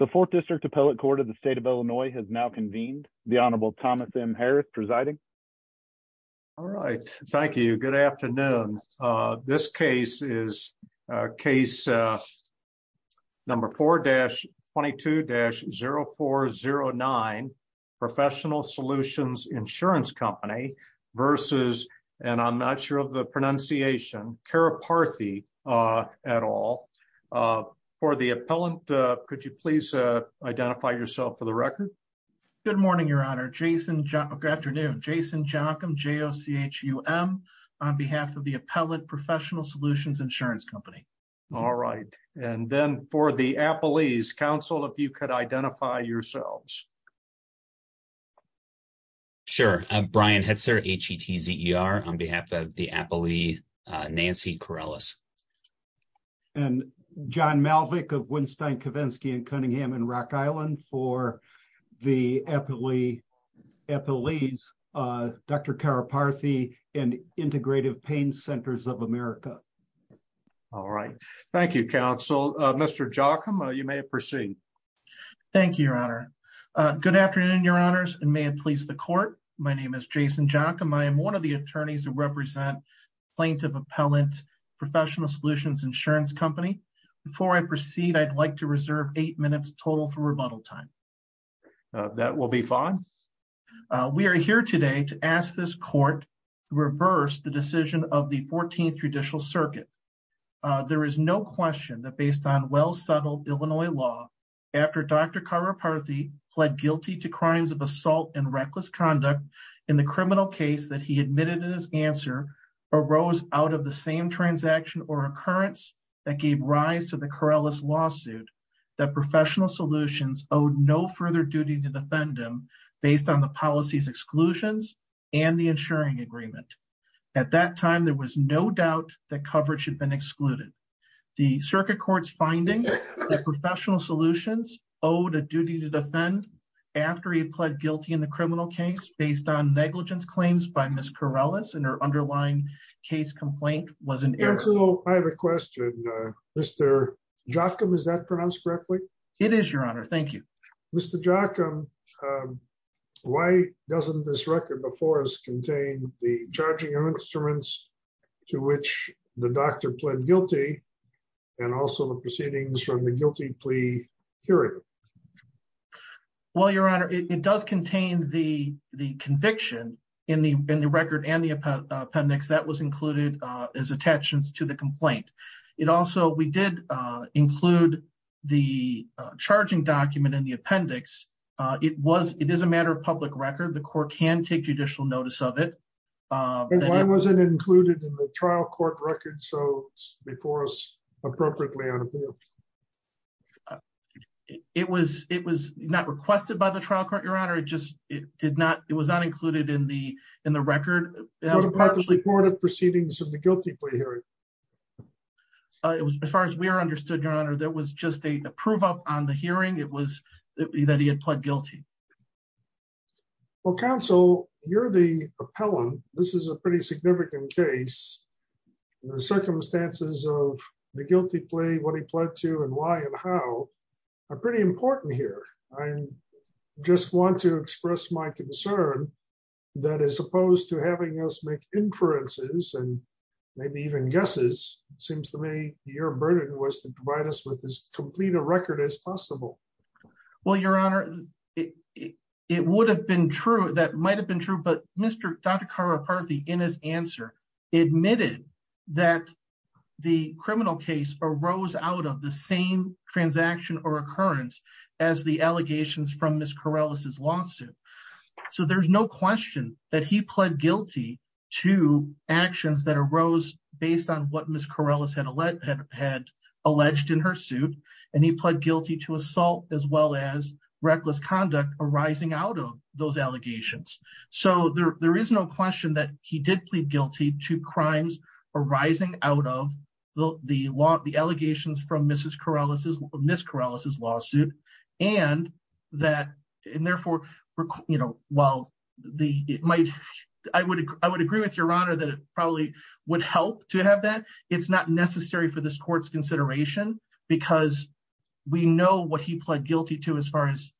The Fourth District Appellate Court of the State of Illinois has now convened. The Honorable Thomas M. Harris presiding. All right. Thank you. Good afternoon. This case is case number 4-22-0409 Professional Solutions Insurance Company v. and I'm not sure of the pronunciation, Karuparthy et al. For the appellant, could you please identify yourself for the record? Good morning, Your Honor. Good afternoon. Jason Jockum, J-O-C-H-U-M, on behalf of the Appellate Professional Solutions Insurance Company. All right. And then for the appellee's counsel, if you could identify yourselves. Sure. I'm Brian Hetzer, H-E-T-Z-E-R, on behalf of the appellee, Nancy Corellis. And John Malvick of Winstein-Kavinsky in Cunningham and Rock Island for the appellee's, Dr. Karuparthy, and Integrative Pain Centers of America. All right. Thank you, counsel. Mr. Jockum, you may proceed. Thank you, Your Honor. Good afternoon, Your Honors, and may it please the court. My name is Jason Jockum. I am one of the attorneys who represent Plaintiff Appellant Professional Solutions Insurance Company. Before I proceed, I'd like to reserve eight minutes total for rebuttal time. That will be fine. We are here today to ask this court to reverse the decision of the 14th Judicial Circuit. There is no question that based on well-settled Illinois law, after Dr. Karuparthy pled guilty to crimes of assault and reckless conduct in the criminal case that he admitted in his answer, arose out of the same transaction or occurrence that gave rise to the Corellis lawsuit, that Professional Solutions owed no further duty to defend him based on the policy's exclusions and the insuring agreement. At that time, there was no doubt that coverage had been excluded. The circuit court's finding that Professional Solutions owed a duty to defend after he pled guilty in the criminal case based on negligence claims by Ms. Corellis and her underlying case complaint was an error. Counsel, I have a question. Mr. Jockum, is that pronounced correctly? It is, Your Honor. Thank you. Mr. Jockum, why doesn't this record before us contain the charging instruments to which the doctor pled guilty and also the proceedings from the guilty plea period? Well, Your Honor, it does contain the conviction in the record and the appendix that was included as attachments to the complaint. It also, we did include the charging document in the appendix. It is a matter of public record. The court can take judicial notice of it. Why was it included in the trial court record so it's before us appropriately on appeal? It was not requested by the trial court, Your Honor. It was not included in the record. What about the reported proceedings of the guilty plea hearing? As far as we are understood, Your Honor, that was just a prove up on the hearing. It was that he had pled guilty. Well, Counsel, you're the appellant. This is a pretty significant case. The circumstances of the guilty plea, what he pled to and why and how are pretty important here. I just want to express my concern that as opposed to having us make inferences and maybe even guesses, it seems to me your burden was to provide us with as complete a record as possible. Well, Your Honor, it would have been true. That might have been true. But Mr. Dr. Karaparthi, in his answer, admitted that the criminal case arose out of the same transaction or occurrence as the allegations from Ms. Corrales' lawsuit. So there's no question that he pled guilty to actions that arose based on what Ms. Corrales had alleged in her suit. And he pled guilty to assault as well as reckless conduct arising out of those allegations. So there is no question that he did plead guilty to crimes arising out of the allegations from Ms. Corrales' lawsuit. And therefore, I would agree with Your Honor that it probably would help to have that. It's not necessary for this court's consideration because we know what he pled guilty to as far as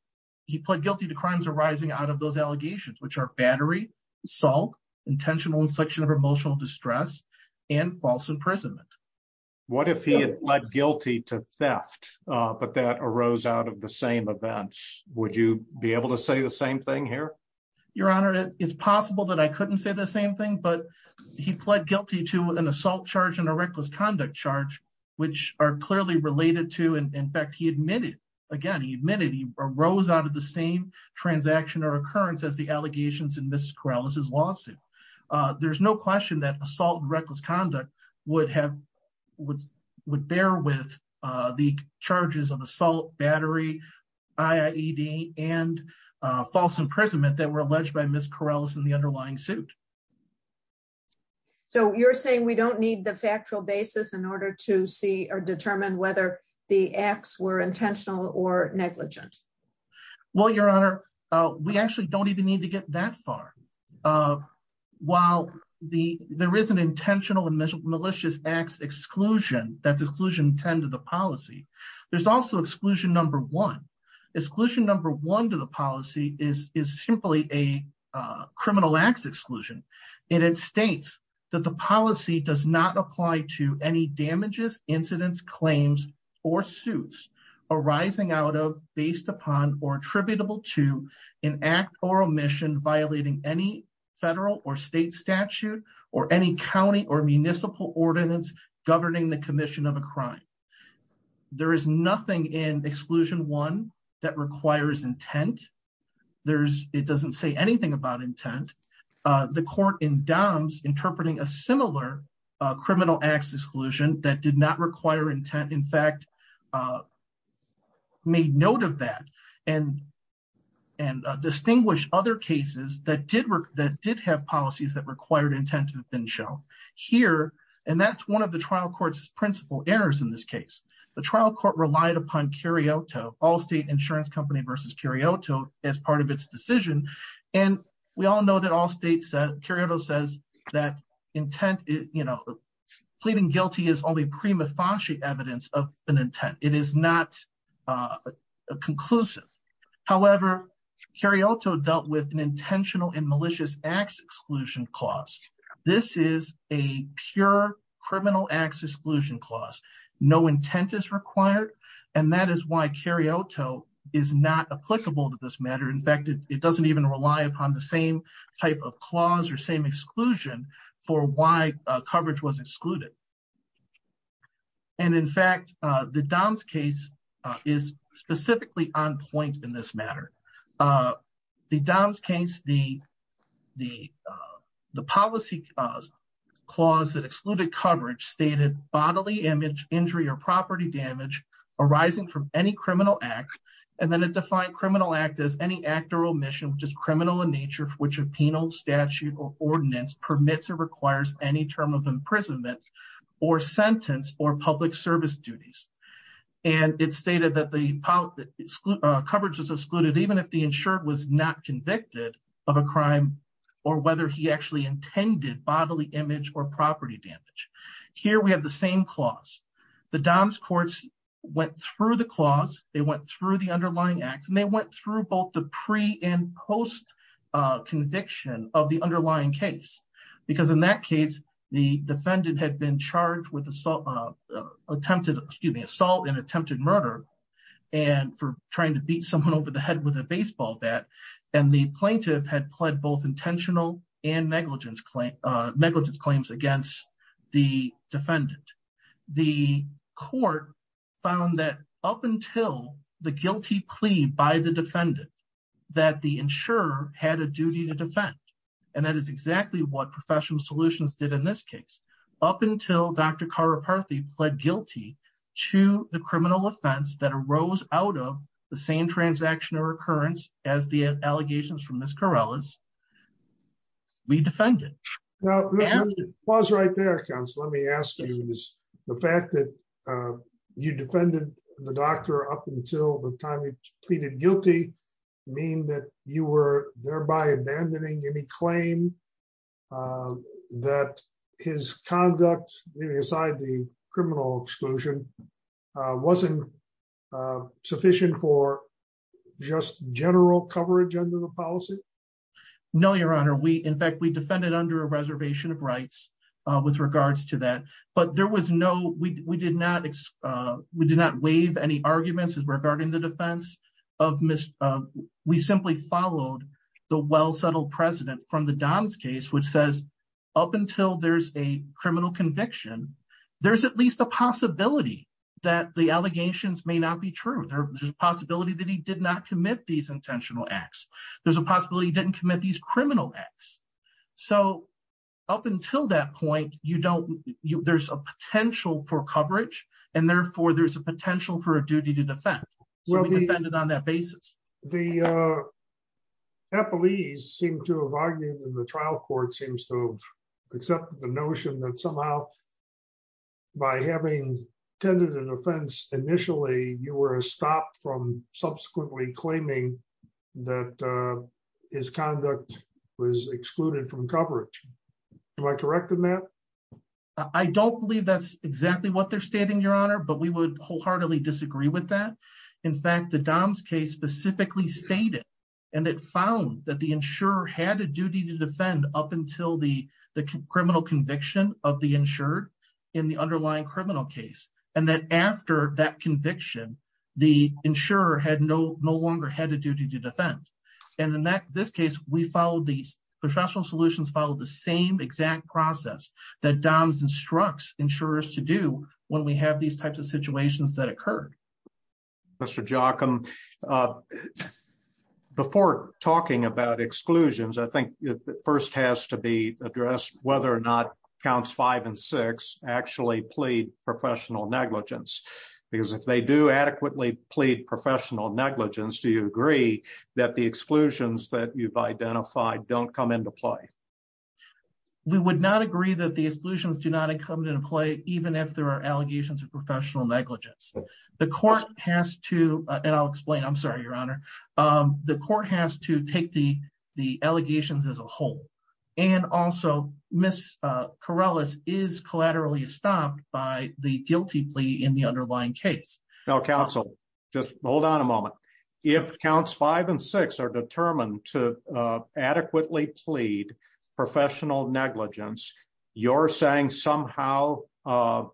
he pled guilty to crimes arising out of those allegations, which are battery, assault, intentional infliction of emotional distress and false imprisonment. What if he had pled guilty to theft, but that arose out of the same events? Would you be able to say the same thing here? Your Honor, it's possible that I couldn't say the same thing, but he pled guilty to an assault charge and a reckless conduct charge, which are clearly related to. In fact, he admitted again, he admitted he arose out of the same transaction or occurrence as the allegations in Ms. Corrales' lawsuit. There's no question that assault and reckless conduct would bear with the charges of assault, battery, I.I.E.D. and false imprisonment that were alleged by Ms. Corrales in the underlying suit. So you're saying we don't need the factual basis in order to see or determine whether the acts were intentional or negligent? Well, Your Honor, we actually don't even need to get that far. While there is an intentional and malicious acts exclusion, that's exclusion 10 to the policy, there's also exclusion number one. Exclusion number one to the policy is simply a criminal acts exclusion. And it states that the policy does not apply to any damages, incidents, claims or suits arising out of, based upon or attributable to an act or omission violating any federal or state statute or any county or municipal ordinance governing the commission of a crime. There is nothing in exclusion one that requires intent. It doesn't say anything about intent. The court in DOMS interpreting a similar criminal acts exclusion that did not require intent, in fact, made note of that and distinguished other cases that did have policies that required intent have been shown. And that's one of the trial court's principal errors in this case. The trial court relied upon Curioto, Allstate Insurance Company versus Curioto, as part of its decision. And we all know that Allstate, Curioto says that intent, you know, pleading guilty is only prima facie evidence of an intent. It is not conclusive. However, Curioto dealt with an intentional and malicious acts exclusion clause. This is a pure criminal acts exclusion clause. No intent is required. And that is why Curioto is not applicable to this matter. In fact, it doesn't even rely upon the same type of clause or same exclusion for why coverage was excluded. And in fact, the DOMS case is specifically on point in this matter. The DOMS case, the policy clause that excluded coverage stated bodily injury or property damage arising from any criminal act. And then it defined criminal act as any act or omission which is criminal in nature for which a penal statute or ordinance permits or requires any term of imprisonment or sentence or public service duties. And it stated that the coverage was excluded even if the insured was not convicted of a crime or whether he actually intended bodily image or property damage. Here we have the same clause. The DOMS courts went through the clause, they went through the underlying acts, and they went through both the pre and post conviction of the underlying case. Because in that case, the defendant had been charged with attempted, excuse me, assault and attempted murder and for trying to beat someone over the head with a baseball bat. And the plaintiff had pled both intentional and negligence claims against the defendant. The court found that up until the guilty plea by the defendant, that the insurer had a duty to defend. And that is exactly what Professional Solutions did in this case, up until Dr. that arose out of the same transaction or occurrence as the allegations from Miss Corrales. We defended. Was right there comes let me ask you is the fact that you defended the doctor up until the time he pleaded guilty mean that you were thereby abandoning any claim that his conduct, aside the criminal exclusion wasn't sufficient for just general coverage under the policy. No, Your Honor, we in fact we defended under a reservation of rights, with regards to that, but there was no we did not. We did not waive any arguments regarding the defense of Miss. We simply followed the well settled precedent from the DOMS case which says, up until there's a criminal conviction. There's at least a possibility that the allegations may not be true there's a possibility that he did not commit these intentional acts. There's a possibility didn't commit these criminal acts. So, up until that point, you don't, you, there's a potential for coverage, and therefore there's a potential for a duty to defend. On that basis, the police seem to have argued in the trial court seems to accept the notion that somehow, by having attended an offense. Initially, you were stopped from subsequently claiming that his conduct was excluded from coverage. My corrected map. I don't believe that's exactly what they're stating, Your Honor, but we would wholeheartedly disagree with that. In fact, the DOMS case specifically stated, and it found that the insurer had a duty to defend up until the, the criminal conviction of the insured in the underlying criminal case, and then after that conviction, the insurer had no no longer had a duty to defend. And in that this case we follow these professional solutions follow the same exact process that DOMS instructs insurers to do when we have these types of situations that occurred. Mr jock them before talking about exclusions I think first has to be addressed, whether or not counts five and six actually plead professional negligence, because if they do adequately plead professional negligence Do you agree that the exclusions that you've identified don't come into play. We would not agree that the exclusions do not come into play, even if there are allegations of professional negligence. The court has to, and I'll explain I'm sorry Your Honor, the court has to take the, the allegations as a whole. And also, Miss Corrales is collaterally stopped by the guilty plea in the underlying case now counsel, just hold on a moment. If counts five and six are determined to adequately plead professional negligence, you're saying somehow collateral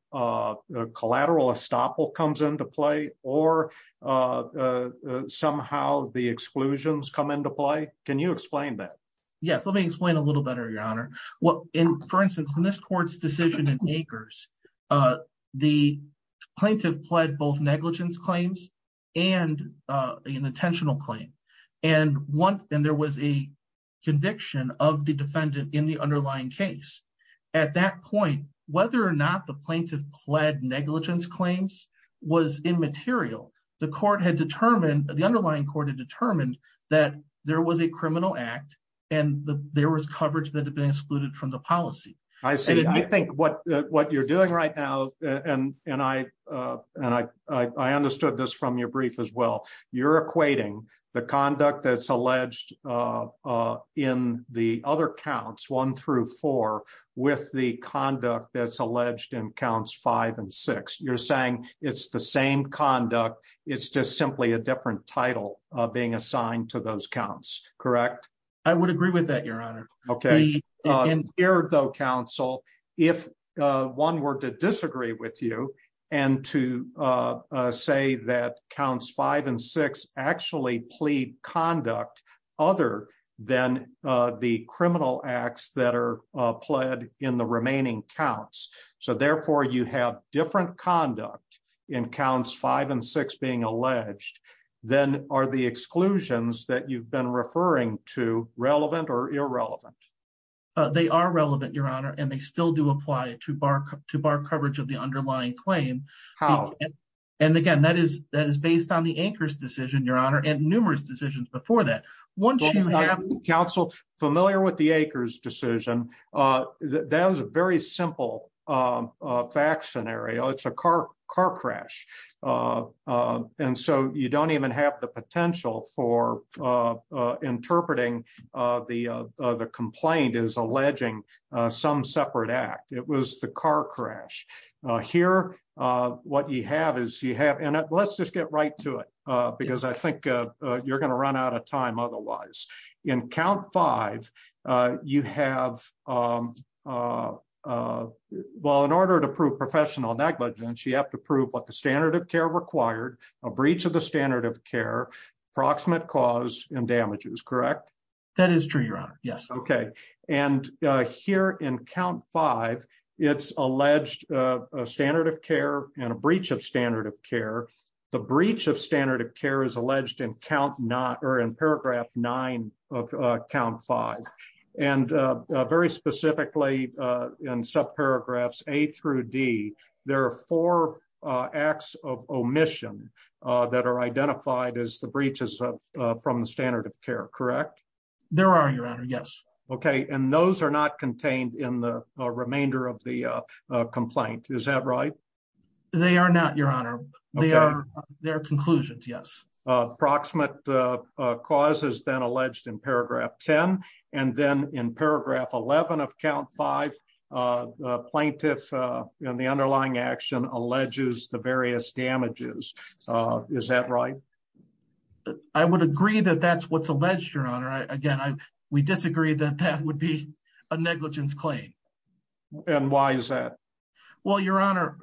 estoppel comes into play, or somehow the exclusions come into play. Can you explain that. Yes, let me explain a little better, Your Honor. Well, in, for instance, in this court's decision in acres. The plaintiff pled both negligence claims and an intentional claim. And one, and there was a conviction of the defendant in the underlying case. At that point, whether or not the plaintiff pled negligence claims was immaterial. The court had determined the underlying court had determined that there was a criminal act, and there was coverage that had been excluded from the policy. I say I think what what you're doing right now, and, and I, and I understood this from your brief as well. You're equating the conduct that's alleged in the other counts one through four, with the conduct that's alleged in counts five and six, you're saying it's the same conduct. It's just simply a different title of being assigned to those counts. Correct. I would agree with that, Your Honor. Okay. Here, though, counsel. If one were to disagree with you, and to say that counts five and six actually plead conduct, other than the criminal acts that are pled in the remaining counts. So therefore you have different conduct in counts five and six being alleged, then are the exclusions that you've been referring to relevant or irrelevant. They are relevant, Your Honor, and they still do apply to bar to bar coverage of the underlying claim. How, and again that is that is based on the anchors decision Your Honor and numerous decisions before that. Once you have counsel familiar with the acres decision. That was a very simple fact scenario it's a car, car crash. And so you don't even have the potential for interpreting the complaint is alleging some separate act, it was the car crash here. What you have is you have and let's just get right to it, because I think you're going to run out of time. Otherwise, in count five, you have. Well, in order to prove professional negligence you have to prove what the standard of care required a breach of the standard of care proximate cause and damages correct. That is true, Your Honor. Yes. Okay. And here in count five, it's alleged standard of care and a breach of standard of care, the breach of standard of care is alleged in count not or in paragraph nine of count five, and very specifically in sub paragraphs, a through D, there are four acts of omission that are identified as the breaches of from the standard of care correct. There are your honor yes okay and those are not contained in the remainder of the complaint is that right. They are not your honor, they are their conclusions yes approximate causes then alleged in paragraph 10, and then in paragraph 11 of count five plaintiff in the underlying action alleges the various damages. Is that right. I would agree that that's what's alleged your honor I again I we disagree that that would be a negligence claim. And why is that. Well, Your Honor.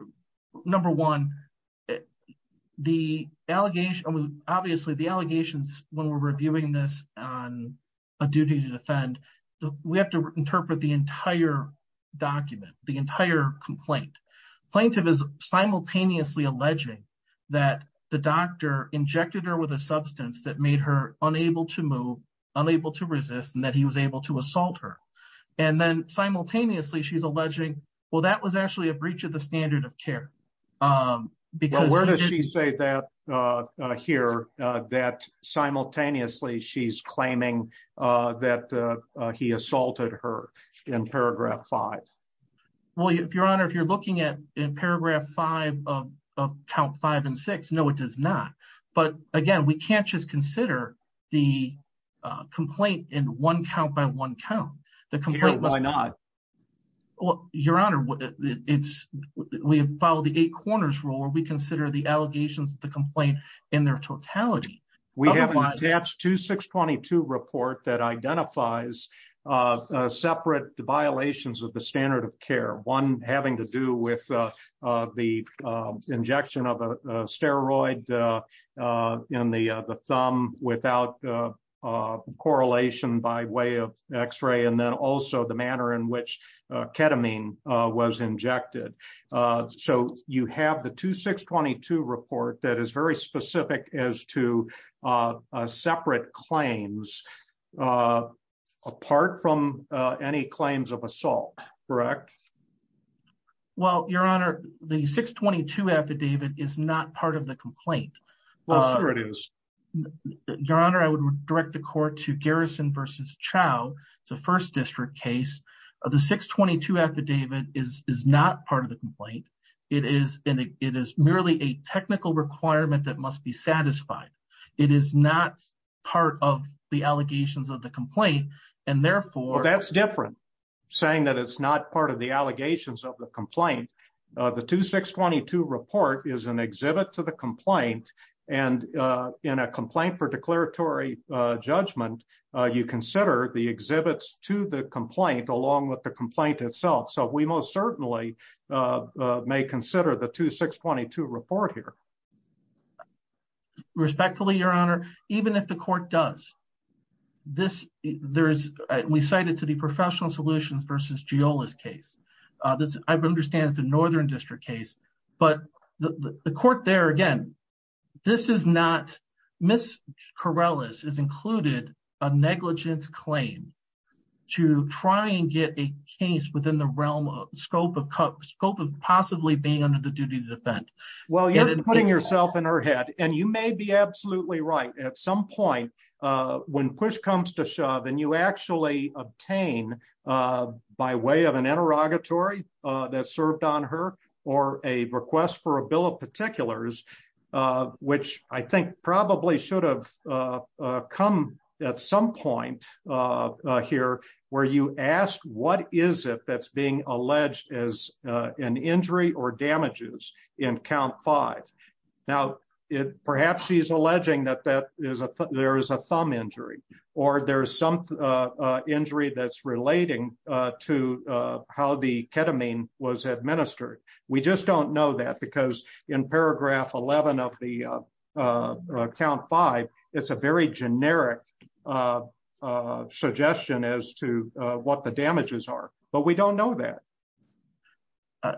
Number one, the allegation obviously the allegations, when we're reviewing this on a duty to defend the, we have to interpret the entire document, the entire complaint plaintiff is simultaneously alleging that the doctor injected her with a substance that made her unable to move unable to resist and that he was able to assault her. And then simultaneously she's alleging, well that was actually a breach of the standard of care. Because where does she say that here that simultaneously she's claiming that he assaulted her in paragraph five. Well, if your honor if you're looking at in paragraph five of count five and six no it does not. But again, we can't just consider the complaint in one count by one count the complaint. Why not. Well, Your Honor. It's, we have followed the eight corners rule where we consider the allegations the complaint in their totality. We have to 622 report that identifies separate violations of the standard of care one having to do with the injection of a steroid. In the, the thumb without correlation by way of x ray and then also the manner in which ketamine was injected. So, you have the to 622 report that is very specific as to separate claims. Apart from any claims of assault. Correct. Well, Your Honor, the 622 affidavit is not part of the complaint. Your Honor, I would direct the court to Garrison versus child. It's a first district case of the 622 affidavit is not part of the complaint. It is, it is merely a technical requirement that must be satisfied. It is not part of the allegations of the complaint, and therefore that's different. Saying that it's not part of the allegations of the complaint. The to 622 report is an exhibit to the complaint, and in a complaint for declaratory judgment, you consider the exhibits to the complaint along with the complaint itself so we most certainly may consider the to 622 report here. Respectfully, Your Honor, even if the court does this, there's, we cited to the professional solutions versus jealous case. This, I understand it's a northern district case, but the court there again. This is not Miss Corrales is included a negligence claim to try and get a case within the realm of scope of scope of possibly being under the duty to defend. Well you're putting yourself in her head, and you may be absolutely right. At some point, when push comes to shove and you actually obtain by way of an interrogatory that served on her, or a request for a bill of particulars, which I think probably should have come at some point here, where you asked what is it that's being alleged as an injury or damages in count five. Now, it perhaps he's alleging that that is a there is a thumb injury, or there's some injury that's relating to how the ketamine was administered. We just don't know that because in paragraph 11 of the count five. It's a very generic suggestion as to what the damages are, but we don't know that.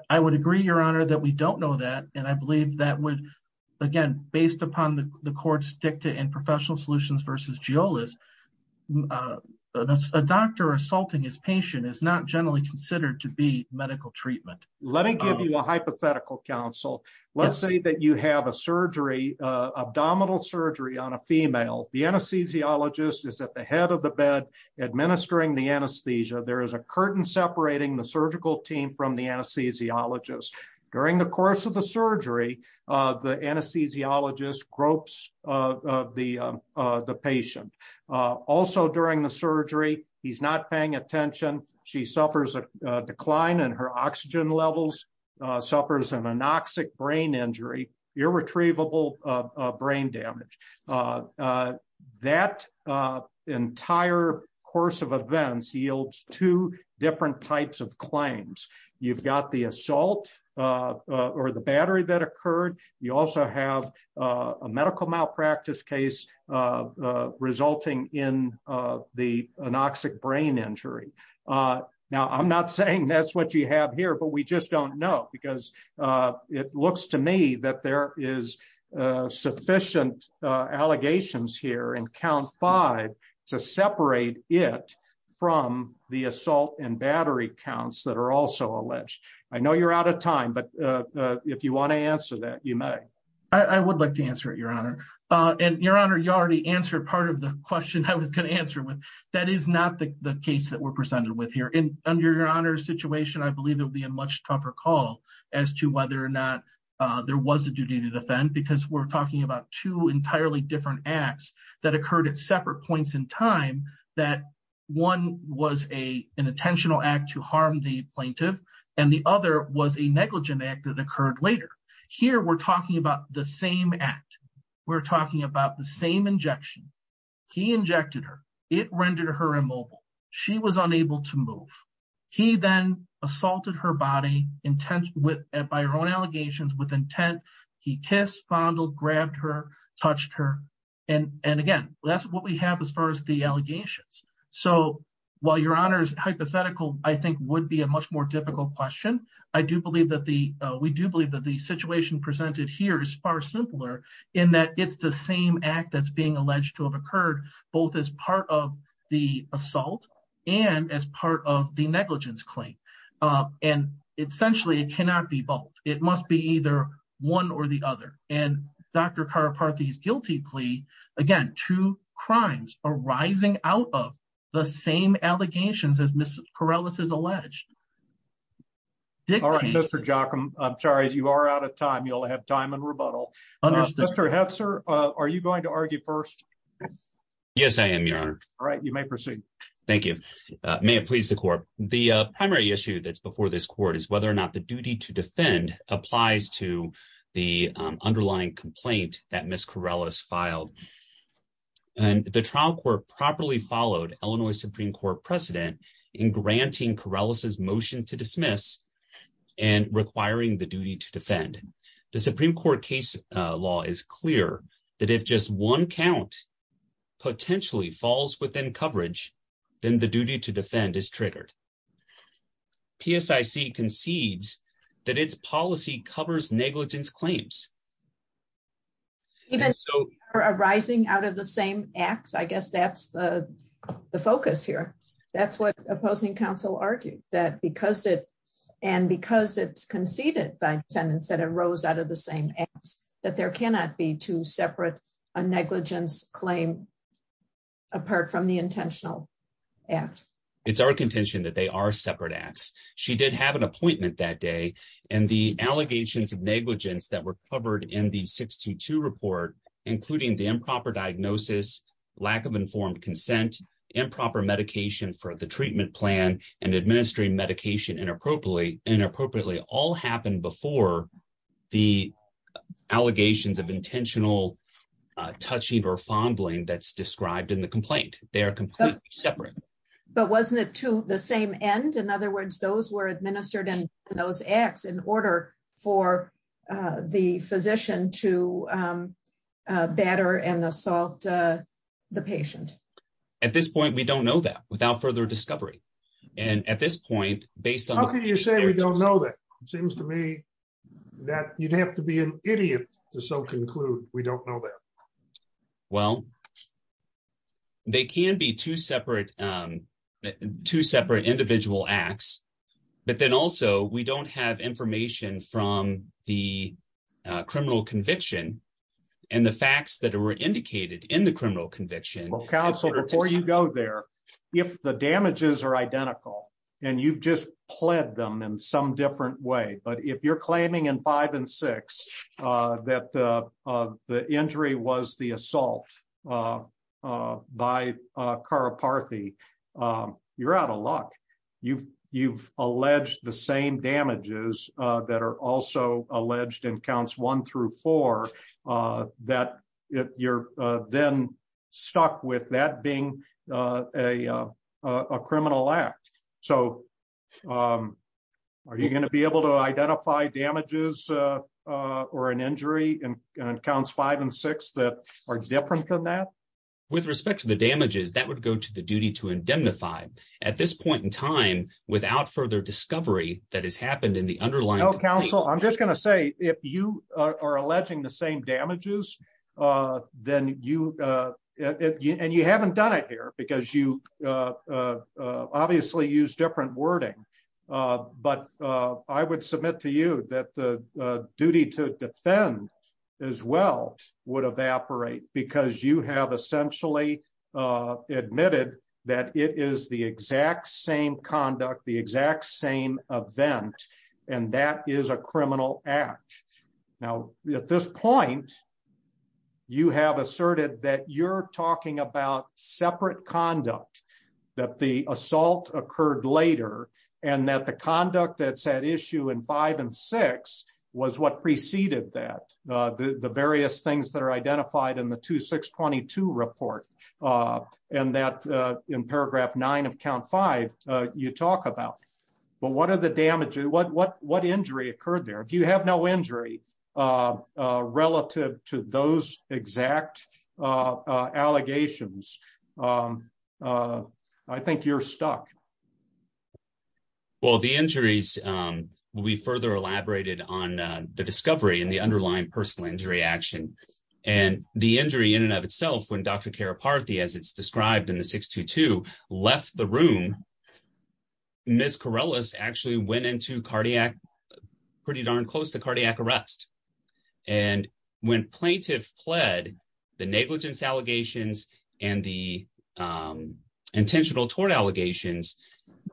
I would agree, Your Honor that we don't know that, and I believe that would, again, based upon the court stick to in professional solutions versus jealous. That's a doctor assaulting his patient is not generally considered to be medical treatment. Let me give you a hypothetical counsel. Let's say that you have a surgery abdominal surgery on a female, the anesthesiologist is at the head of the bed, administering the anesthesia there is a curtain separating the surgical team from the anesthesiologist. During the course of the surgery. The anesthesiologist gropes, the, the patient. Also during the surgery, he's not paying attention. She suffers a decline and her oxygen levels suffers an anoxic brain injury, your retrievable brain damage. That entire course of events yields two different types of claims. You've got the assault, or the battery that occurred. You also have a medical malpractice case, resulting in the anoxic brain injury. Now I'm not saying that's what you have here but we just don't know because it looks to me that there is sufficient allegations here and count five to separate it from the assault and battery counts that are also alleged. I know you're out of time but if you want to answer that you may. I would like to answer it, Your Honor, and Your Honor you already answered part of the question I was going to answer with. That is not the case that we're presented with here in under your honor situation I believe it will be a much tougher call as to whether or not there was a duty to defend because we're talking about two entirely different acts that occurred at separate points in time that one was a an intentional act to harm the plaintiff, and the other was a negligent act that occurred later. Here we're talking about the same act. We're talking about the same injection. He injected her, it rendered her immobile. She was unable to move. He then assaulted her body intent with by her own allegations with intent. He kissed fondle grabbed her touched her. And, and again, that's what we have as far as the allegations. So, while your honors hypothetical, I think would be a much more difficult question. I do believe that the, we do believe that the situation presented here is far simpler in that it's the same act that's being alleged to have occurred, both as part of the assault, and as part of the negligence claim. And essentially it cannot be both, it must be either one or the other, and Dr. McCarthy's guilty plea. Again, two crimes are rising out of the same allegations as Miss Corrales is alleged. All right, Mr jock I'm sorry if you are out of time you'll have time and rebuttal. Sir, are you going to argue first. Yes, I am your honor. All right, you may proceed. Thank you. May it please the court, the primary issue that's before this court is whether or not the duty to defend applies to the underlying complaint that Miss Corrales filed. And the trial court properly followed Illinois Supreme Court precedent in granting Corrales's motion to dismiss and requiring the duty to defend the Supreme Court case law is clear that if just one count potentially falls within coverage, then the duty to defend is triggered. PSIC concedes that its policy covers negligence claims. Even so, arising out of the same acts I guess that's the focus here. That's what opposing counsel argued that because it. And because it's conceded by tenants that arose out of the same acts that there cannot be two separate negligence claim. Apart from the intentional act. It's our contention that they are separate acts. She did have an appointment that day, and the allegations of negligence that were covered in the 62 report, including the improper diagnosis, lack of informed consent improper medication for the treatment plan and administering medication and appropriately inappropriately all happened before the allegations of intentional touching or fumbling that's described in the complaint, they are completely separate. But wasn't it to the same end. In other words, those were administered and those acts in order for the physician to batter and assault the patient. At this point we don't know that without further discovery. And at this point, based on you say we don't know that it seems to me that you'd have to be an idiot to so conclude, we don't know that. Well, they can be two separate two separate individual acts, but then also we don't have information from the criminal conviction, and the facts that are indicated in the criminal conviction, or counsel before you go there. If the damages are identical, and you've just pled them in some different way but if you're claiming and five and six, that the injury was the assault by car apart the you're out of luck. You've, you've alleged the same damages that are also alleged and counts one through four, that you're then stuck with that being a criminal act. So, are you going to be able to identify damages or an injury and counts five and six that are different than that. With respect to the damages that would go to the duty to indemnify at this point in time, without further discovery that has happened in the underlying counsel, I'm just going to say, if you are alleging the same damages. Then you and you haven't done it here because you obviously use different wording, but I would submit to you that the duty to defend as well would evaporate because you have essentially admitted that it is the exact same conduct the exact same event. And that is a criminal act. Now, at this point, you have asserted that you're talking about separate conduct that the assault occurred later, and that the conduct that said issue and five and six was what preceded that the various things that are identified in the 2622 report, and that in paragraph nine of count five, you talk about, but what are the damage what what what injury occurred there if you have no injury, relative to those exact allegations. I think you're stuck. Well, the injuries, we further elaborated on the discovery and the underlying personal injury action and the injury in and of itself when Dr. described in the 622 left the room. Miss Corrales actually went into cardiac pretty darn close to cardiac arrest. And when plaintiff pled the negligence allegations and the intentional tort allegations.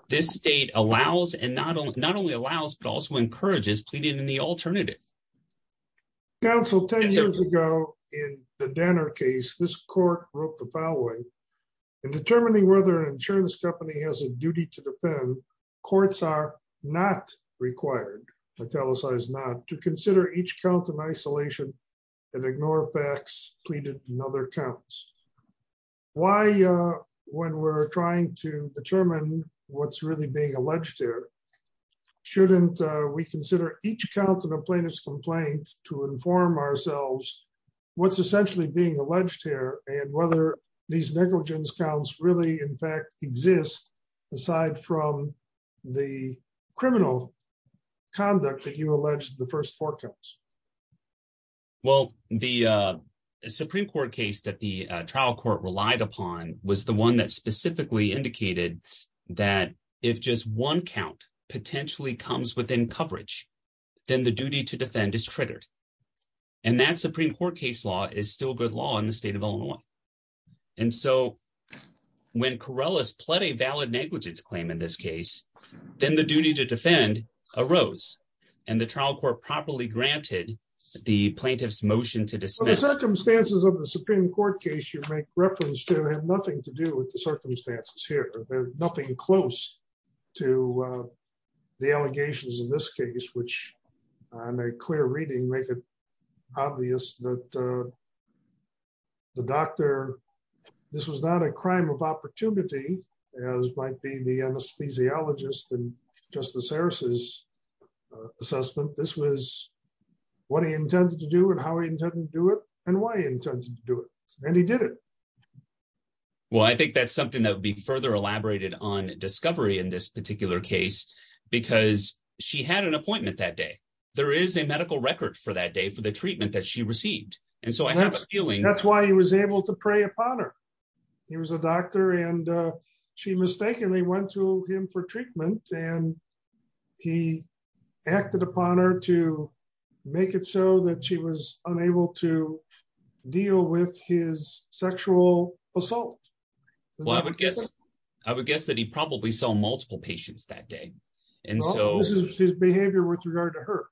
This state allows and not only not only allows but also encourages pleading in the alternative. Council 10 years ago in the dinner case this court wrote the following and determining whether insurance company has a duty to defend courts are not required to tell us I was not to consider each count in isolation and ignore facts pleaded in other accounts. Why, when we're trying to determine what's really being alleged here. Shouldn't we consider each count of a plaintiff's complaint to inform ourselves what's essentially being alleged here, and whether these negligence counts really in fact exists, aside from the criminal conduct that you alleged the first four counts. Well, the Supreme Court case that the trial court relied upon was the one that specifically indicated that if just one count potentially comes within coverage, then the duty to defend is triggered. And that Supreme Court case law is still good law in the state of Illinois. And so, when Corrales pled a valid negligence claim in this case, then the duty to defend arose, and the trial court properly granted the plaintiffs motion to dismiss circumstances of the Supreme Court case you make reference to have nothing to do with the circumstances here, there's nothing close to the allegations in this case which I'm a clear reading make it obvious that the doctor. This was not a crime of opportunity, as might be the anesthesiologist and Justice Harris's assessment this was what he intended to do and how he intended to do it, and why he intended to do it, and he did it. Well, I think that's something that would be further elaborated on discovery in this particular case, because she had an appointment that day, there is a medical record for that day for the treatment that she received. That's why he was able to prey upon her. He was a doctor and she mistakenly went to him for treatment, and he acted upon her to make it so that she was unable to deal with his sexual assault. Well, I would guess, I would guess that he probably saw multiple patients that day. And so, his behavior with regard to her.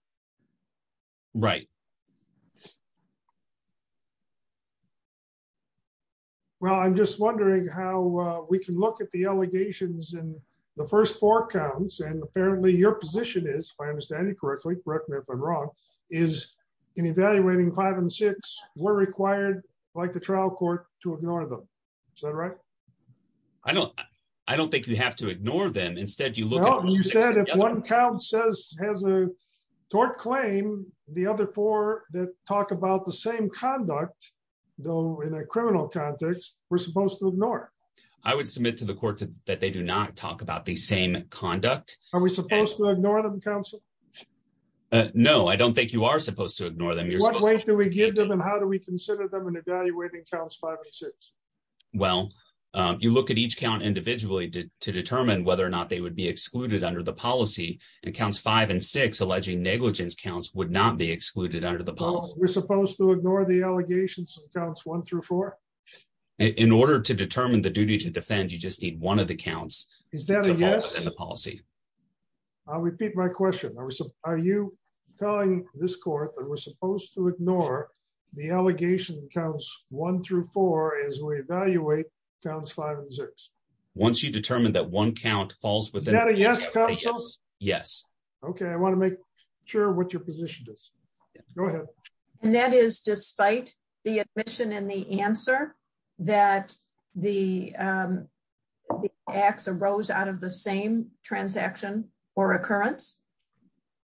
Right. Well, I'm just wondering how we can look at the allegations and the first four counts and apparently your position is, if I understand it correctly correct me if I'm wrong, is an evaluating five and six were required, like the trial court to ignore them. Is that right. I don't, I don't think you have to ignore them instead you look at one count says has a tort claim. The other four that talk about the same conduct, though, in a criminal context, we're supposed to ignore. I would submit to the court that they do not talk about the same conduct. Are we supposed to ignore them Council. No, I don't think you are supposed to ignore them you're going to give them and how do we consider them and evaluating counts five and six. Well, you look at each count individually to determine whether or not they would be excluded under the policy and counts five and six alleging negligence counts would not be excluded under the polls, we're supposed to ignore the allegations accounts one through four. In order to determine the duty to defend you just need one of the counts. Is that a yes policy. I'll repeat my question I was, are you telling this court that we're supposed to ignore the allegation counts, one through four as we evaluate counts five and six. Once you determine that one count falls within a yes. Yes. Okay, I want to make sure what your position is. And that is despite the admission and the answer that the acts arose out of the same transaction or occurrence.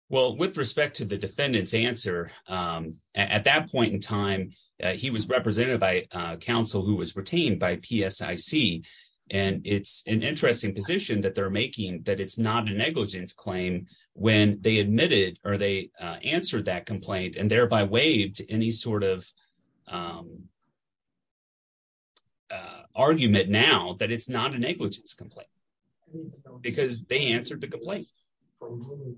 Well, with respect to the defendants answer. At that point in time, he was represented by Council who was retained by PSC, and it's an interesting position that they're making that it's not a negligence claim when they admitted, or they answered that complaint and thereby waived any sort of argument now that it's not a negligence complaint. Because they answered the complaint.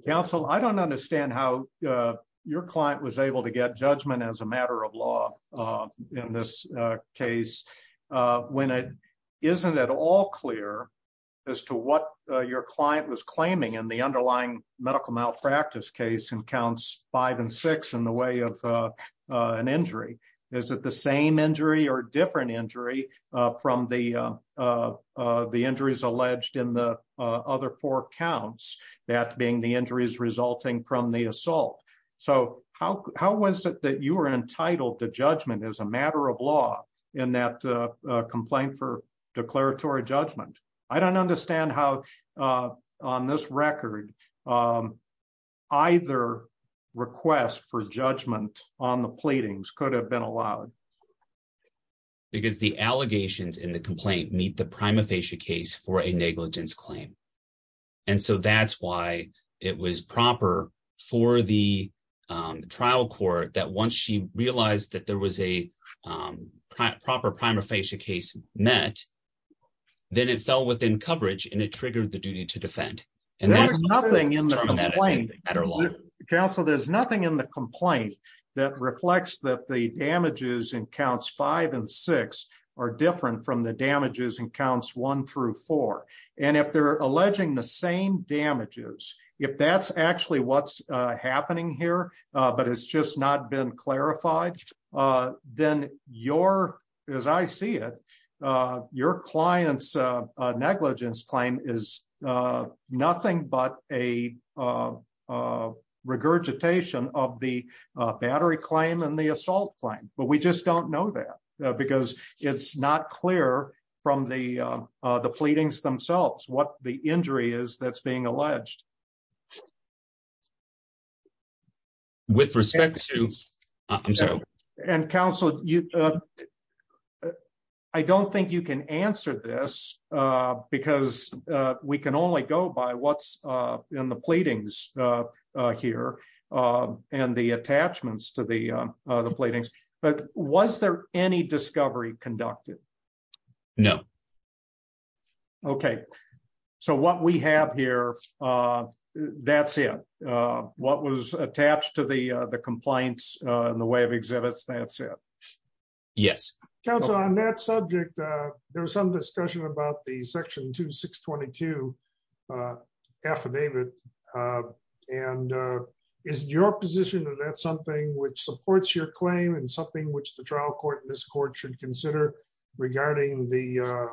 Council I don't understand how your client was able to get judgment as a matter of law. In this case, when it isn't at all clear as to what your client was claiming and the underlying medical malpractice case and counts, five and six in the way of an injury. Is it the same injury or different injury from the, the injuries alleged in the other four counts, that being the injuries resulting from the assault. So, how, how was it that you are entitled to judgment as a matter of law in that complaint for declaratory judgment. I don't understand how on this record. Either request for judgment on the pleadings could have been allowed. Because the allegations in the complaint meet the prima facie case for a negligence claim. And so that's why it was proper for the trial court that once she realized that there was a proper prima facie case met. Then it fell within coverage and it triggered the duty to defend. Nothing in the council there's nothing in the complaint that reflects that the damages and counts five and six are different from the damages and counts one through four, and if they're alleging the same damages. If that's actually what's happening here, but it's just not been clarified, then your, as I see it, your clients negligence claim is nothing but a regurgitation of the battery claim and the assault claim, but we just don't know that, because it's not clear from the, the pleadings themselves what the injury is that's being alleged with respect to. And counsel, you. I don't think you can answer this, because we can only go by what's in the pleadings here, and the attachments to the, the pleadings, but was there any discovery conducted. No. Okay. So what we have here. That's it. What was attached to the, the complaints in the way of exhibits that's it. Yes. Council on that subject. There was some discussion about the section to 622 affidavit. And is your position that that's something which supports your claim and something which the trial court this court should consider regarding the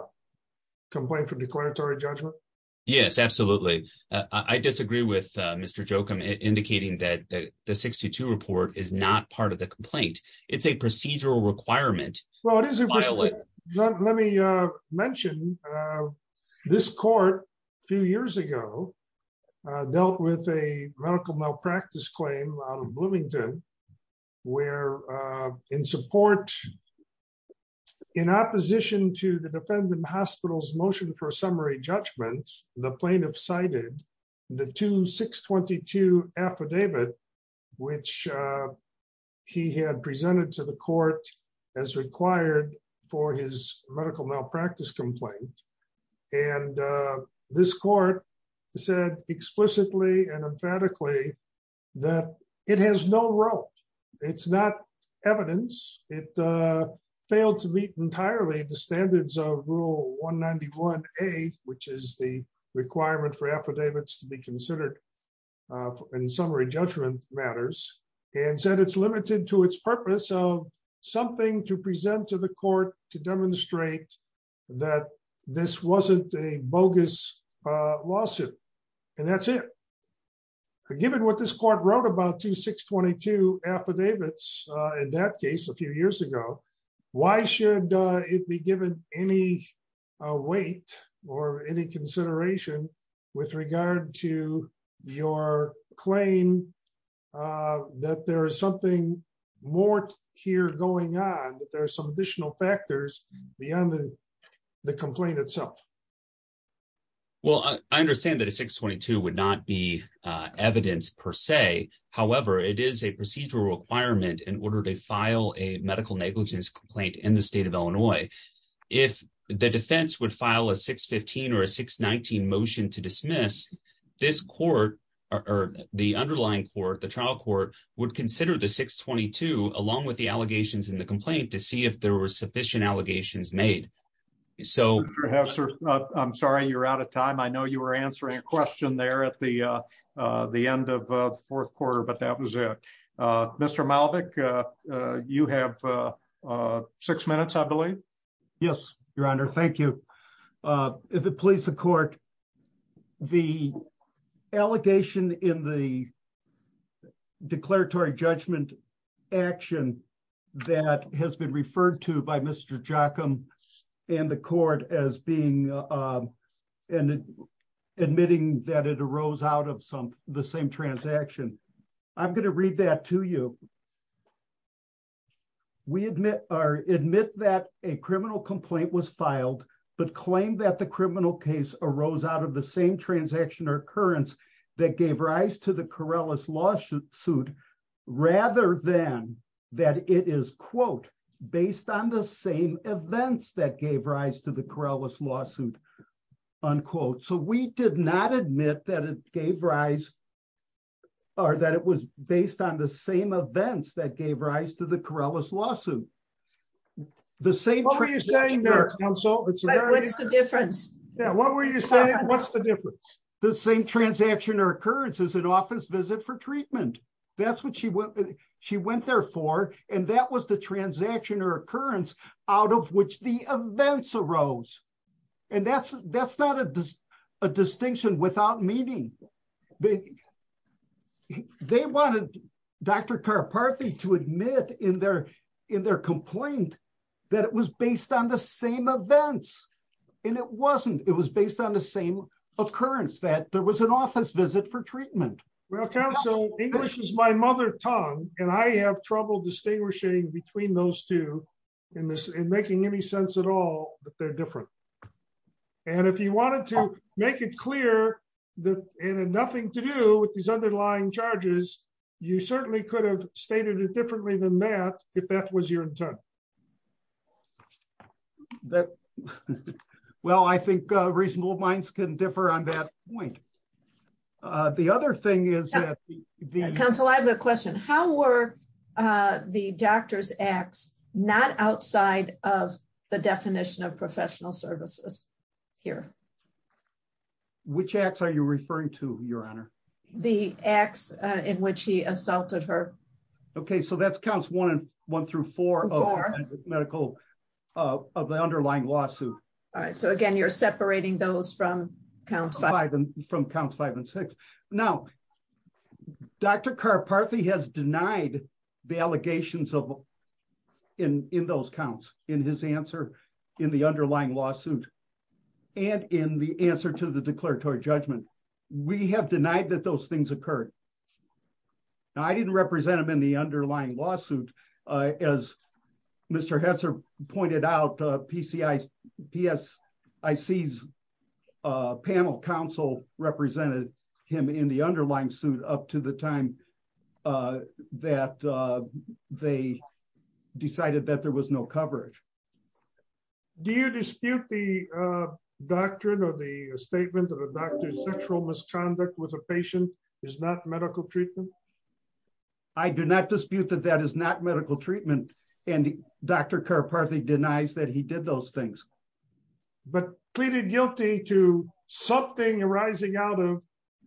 complaint for declaratory judgment. Yes, absolutely. I disagree with Mr joke I'm indicating that the 62 report is not part of the complaint. It's a procedural requirement. Let me mention this court. Few years ago, dealt with a medical malpractice claim out of Bloomington, where in support in opposition to the defendant hospitals motion for summary judgments, the plaintiff cited the to 622 affidavit, which he had presented to the court as required for his medical malpractice complaint. And this court said explicitly and emphatically that it has no role. It's not evidence, it failed to meet entirely the standards of rule 191, a, which is the requirement for affidavits to be considered in summary judgment matters, and said it's limited to its purpose of something to present to the court to demonstrate that this wasn't a bogus lawsuit. And that's it. Given what this court wrote about to 622 affidavits. In that case, a few years ago, why should it be given any weight, or any consideration with regard to your claim that there is something more here going on, there are some additional factors beyond the complaint itself. Well, I understand that a 622 would not be evidence per se. However, it is a procedural requirement in order to file a medical negligence complaint in the state of Illinois. If the defense would file a 615 or 619 motion to dismiss this court, or the underlying court the trial court would consider the 622, along with the allegations in the complaint to see if there were sufficient allegations made. So, I'm sorry you're out of time I know you were answering a question there at the, the end of the fourth quarter but that was it. Mr Malik. You have six minutes I believe. Yes, Your Honor. Thank you. If it please the court. The allegation in the declaratory judgment action that has been referred to by Mr jackham and the court as being in admitting that it arose out of some, the same transaction. I'm going to read that to you. We admit or admit that a criminal complaint was filed, but claim that the criminal case arose out of the same transaction or occurrence that gave rise to the Corrales lawsuit suit, rather than that it is quote, based on the same events that gave rise to the Corrales lawsuit unquote so we did not admit that it gave rise. Or that it was based on the same events that gave rise to the Corrales lawsuit. The same are you saying there. So, what is the difference. What were you saying what's the difference. The same transaction or occurrence is an office visit for treatment. That's what she went. She went there for, and that was the transaction or occurrence, out of which the events arose. And that's, that's not a distinction without meeting. The. They wanted Dr McCarthy to admit in their, in their complaint that it was based on the same events. And it wasn't, it was based on the same occurrence that there was an office visit for treatment. Well Council English is my mother tongue, and I have trouble distinguishing between those two in this and making any sense at all that they're different. And if you wanted to make it clear that it had nothing to do with these underlying charges, you certainly could have stated it differently than that, if that was your intent. That. Well I think reasonable minds can differ on that point. The other thing is the council I have a question, how were the doctor's acts, not outside of the definition of professional services here, which acts are you referring to your honor, the acts in which he assaulted her. Okay, so that's counts one, one through four medical of the underlying lawsuit. So again you're separating those from count five and from count five and six. Now, Dr McCarthy has denied the allegations of in in those counts in his answer in the underlying lawsuit. And in the answer to the declaratory judgment. We have denied that those things occurred. I didn't represent them in the underlying lawsuit. As Mr Hatcher pointed out, PCI PS. I sees panel council represented him in the underlying suit up to the time that they decided that there was no coverage. Do you dispute the doctrine or the statement of a doctor's sexual misconduct with a patient is not medical treatment. I do not dispute that that is not medical treatment and Dr McCarthy denies that he did those things, but pleaded guilty to something arising out of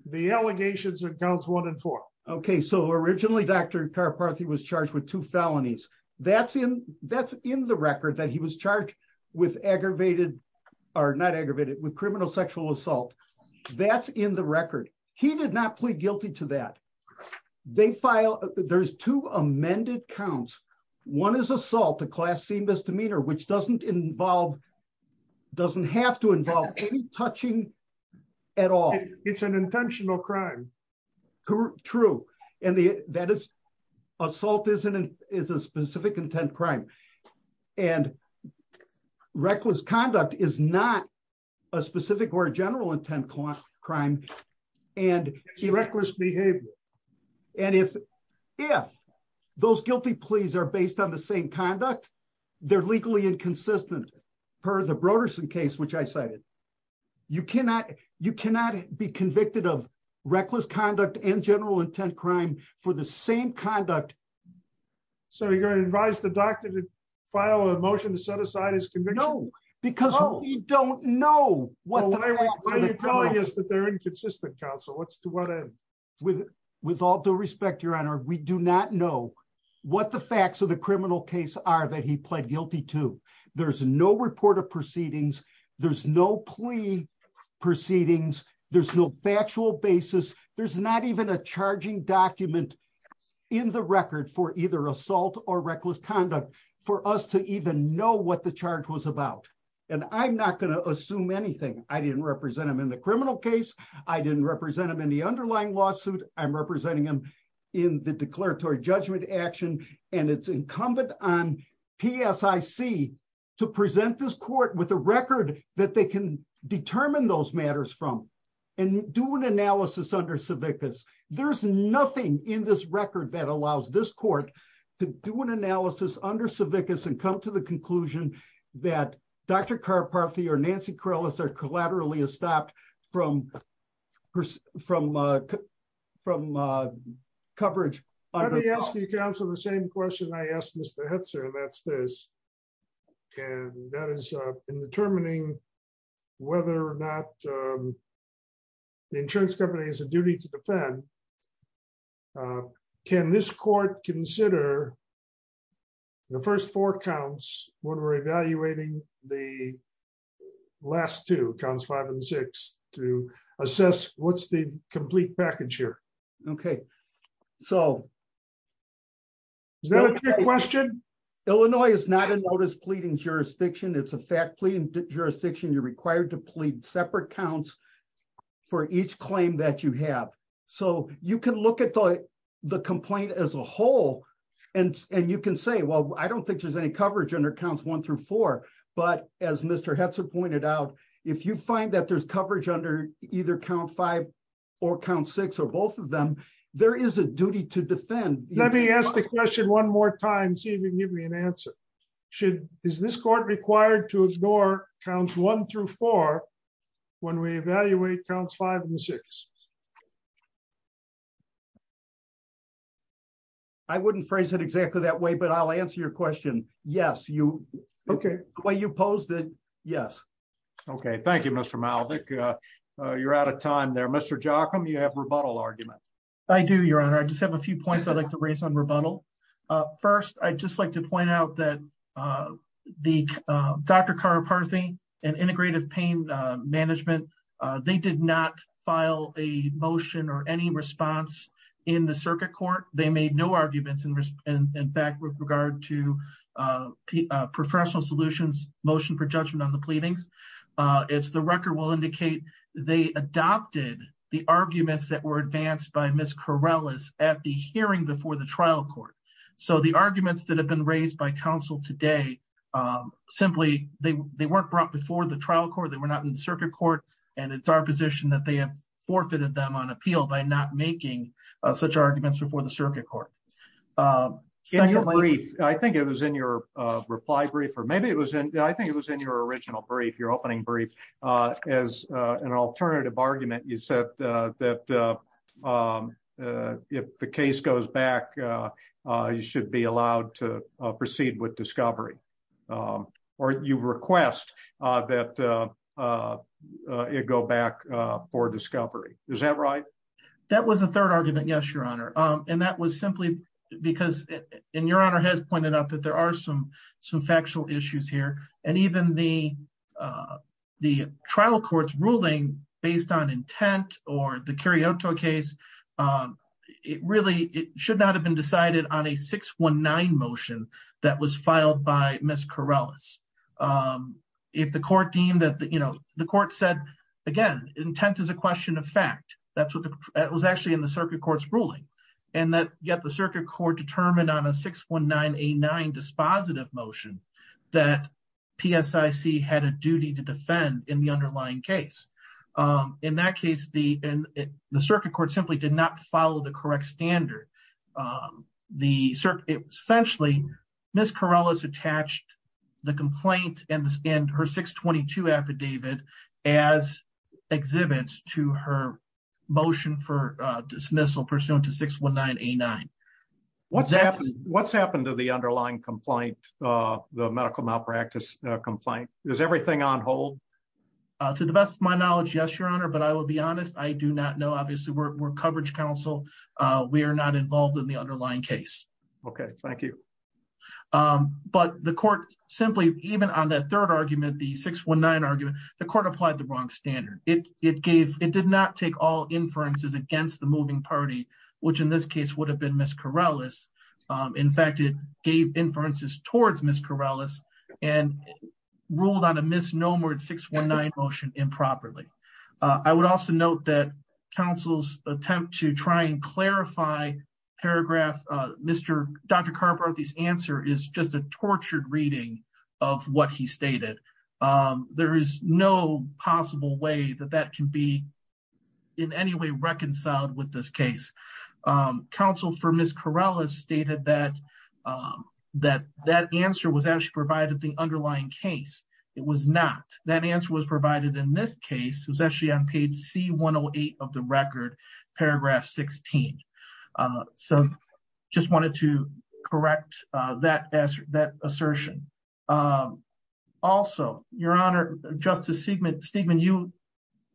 the allegations accounts one and four. Okay, so originally Dr McCarthy was charged with two felonies. That's him. That's in the record that he was charged with aggravated are not aggravated with criminal sexual assault. That's in the record. He did not plead guilty to that. They file, there's two amended counts. One is assault a class C misdemeanor which doesn't involve doesn't have to involve touching at all. It's an intentional crime. True, true. And the that is assault isn't is a specific intent crime and reckless conduct is not a specific or general intent crime crime, and he reckless behavior. And if, if those guilty pleas are based on the same conduct, they're legally inconsistent per the Broderickson case which I cited, you cannot, you cannot be convicted of reckless conduct and general intent crime for the same conduct. So you're going to advise the doctor to file a motion to set aside his conviction. No, because we don't know what they're doing is that they're inconsistent counsel what's the weather with, with all due respect, Your Honor, we do not know what the facts of the criminal in the record for either assault or reckless conduct for us to even know what the charge was about. And I'm not going to assume anything I didn't represent them in the criminal case, I didn't represent them in the underlying lawsuit, I'm representing them in the declaratory judgment action, and it's incumbent on PSI see to present this court with a record that they can determine those matters from and do an analysis under certificates, there's nothing in this record that allows this court to do an coverage. The same question I asked Mr. That's this. And that is in determining whether or not the insurance company is a duty to defend. Can this court consider the first four counts, when we're evaluating the last two counts five and six to assess what's the complete package here. Okay. So, question, Illinois is not a notice pleading jurisdiction it's a fact pleading jurisdiction you're required to plead separate counts for each claim that you have. So, you can look at the complaint as a whole. And, and you can say well I don't think there's any coverage under counts one through four, but as Mr Hudson pointed out, if you find that there's coverage under either count five or count six or both of them. There is a duty to defend, let me ask the question one more time see if you give me an answer. Should this this court required to ignore counts one through four. When we evaluate counts five and six. I wouldn't phrase it exactly that way but I'll answer your question. Yes, you. Okay, well you posed it. Yes. Okay, thank you, Mr Malik. You're out of time there Mr jock them you have rebuttal argument. I do your honor I just have a few points I'd like to raise on rebuttal. First, I'd just like to point out that the doctor car party and integrative pain management. They did not file a motion or any response in the circuit court, they made no arguments and in fact with regard to professional solutions motion for judgment on It's the record will indicate they adopted the arguments that were advanced by Miss Corrales at the hearing before the trial court. So the arguments that have been raised by counsel today. Simply, they weren't brought before the trial court they were not in circuit court, and it's our position that they have forfeited them on appeal by not making such arguments before the circuit court. Brief, I think it was in your reply brief or maybe it was in, I think it was in your original brief your opening brief as an alternative argument you said that if the case goes back. You should be allowed to proceed with discovery. Or you request that it go back for discovery. Is that right. That was a third argument. Yes, your honor. And that was simply because in your honor has pointed out that there are some some factual issues here, and even the, the trial courts ruling based on intent or the carry out to a case. It really should not have been decided on a 619 motion that was filed by Miss Corrales. If the court deemed that the, you know, the court said, again, intent is a question of fact, that's what it was actually in the circuit courts ruling, and that yet the circuit court determined on a 619 a nine dispositive motion that PSC had a duty to defend in the underlying case. In that case, the, the circuit court simply did not follow the correct standard. The circuit, essentially, Miss Corrales attached the complaint, and her 622 affidavit as exhibits to her motion for dismissal pursuant to 619 a nine. What's, what's happened to the underlying complaint, the medical malpractice complaint, is everything on hold. To the best of my knowledge, yes, your honor, but I will be honest, I do not know obviously we're coverage council. We are not involved in the underlying case. Okay, thank you. But the court, simply, even on that third argument the 619 argument, the court applied the wrong standard, it, it gave it did not take all inferences against the moving party, which in this case would have been Miss Corrales. In fact, it gave inferences towards Miss Corrales and ruled on a misnomer 619 motion improperly. I would also note that counsel's attempt to try and clarify paragraph. Mr. Dr. Carp are these answer is just a tortured reading of what he stated. There is no possible way that that can be in any way reconciled with this case. Counsel for Miss Corrales stated that that that answer was actually provided the underlying case. It was not that answer was provided in this case was actually on page C 108 of the record, paragraph 16. So, just wanted to correct that as that assertion. Also, Your Honor, Justice segment statement you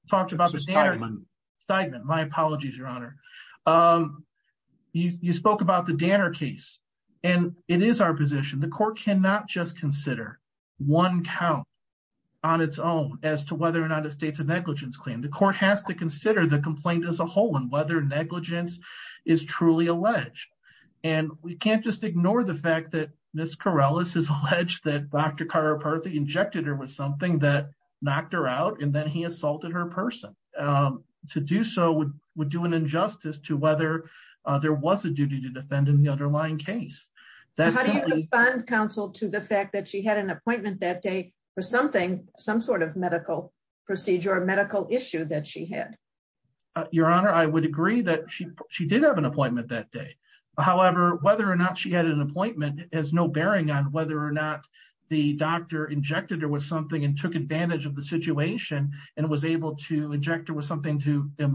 talked about the stigma, my apologies, Your Honor. You spoke about the dinner case, and it is our position the court cannot just consider one count on its own as to whether or not the states of negligence claim the court has to consider the complaint as a whole and whether negligence is truly alleged. And we can't just ignore the fact that Miss Corrales is alleged that Dr. Carparthy injected her with something that knocked her out and then he assaulted her person to do so would would do an injustice to whether there was a duty to defend in the underlying case. That's fun counsel to the fact that she had an appointment that day for something, some sort of medical procedure medical issue that she had. Your Honor, I would agree that she, she did have an appointment that day. However, whether or not she had an appointment has no bearing on whether or not the doctor injected or was something and took advantage of the situation, and was able to inject it was obviously there was a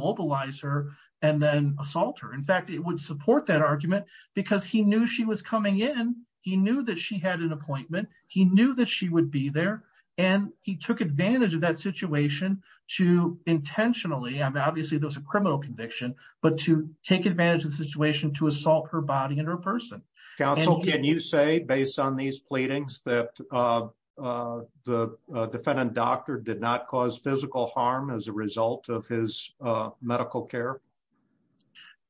criminal conviction, but to take advantage of the situation to assault her body and her person. Can you say based on these pleadings that the defendant doctor did not cause physical harm as a result of his medical care.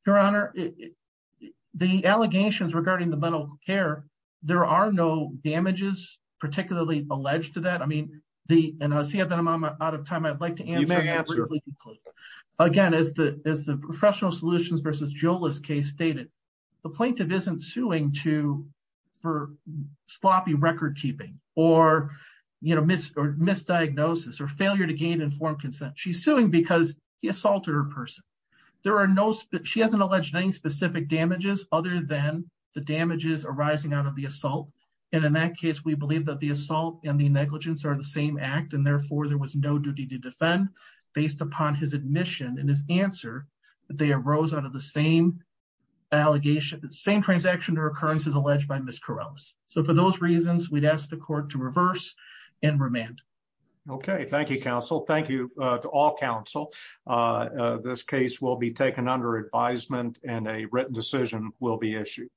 Your Honor. The allegations regarding the mental care. There are no damages, particularly alleged to that I mean the, and I see that I'm out of time I'd like to answer. Again, as the, as the professional solutions versus Joelist case stated, the plaintiff isn't suing to for sloppy record keeping, or, you know, miss or misdiagnosis or failure to gain informed consent she's suing because he assaulted her person. There are no, she hasn't alleged any specific damages, other than the damages arising out of the assault. And in that case we believe that the assault and the negligence are the same act and therefore there was no duty to defend, based upon his admission and his case will be taken under advisement and a written decision will be issued.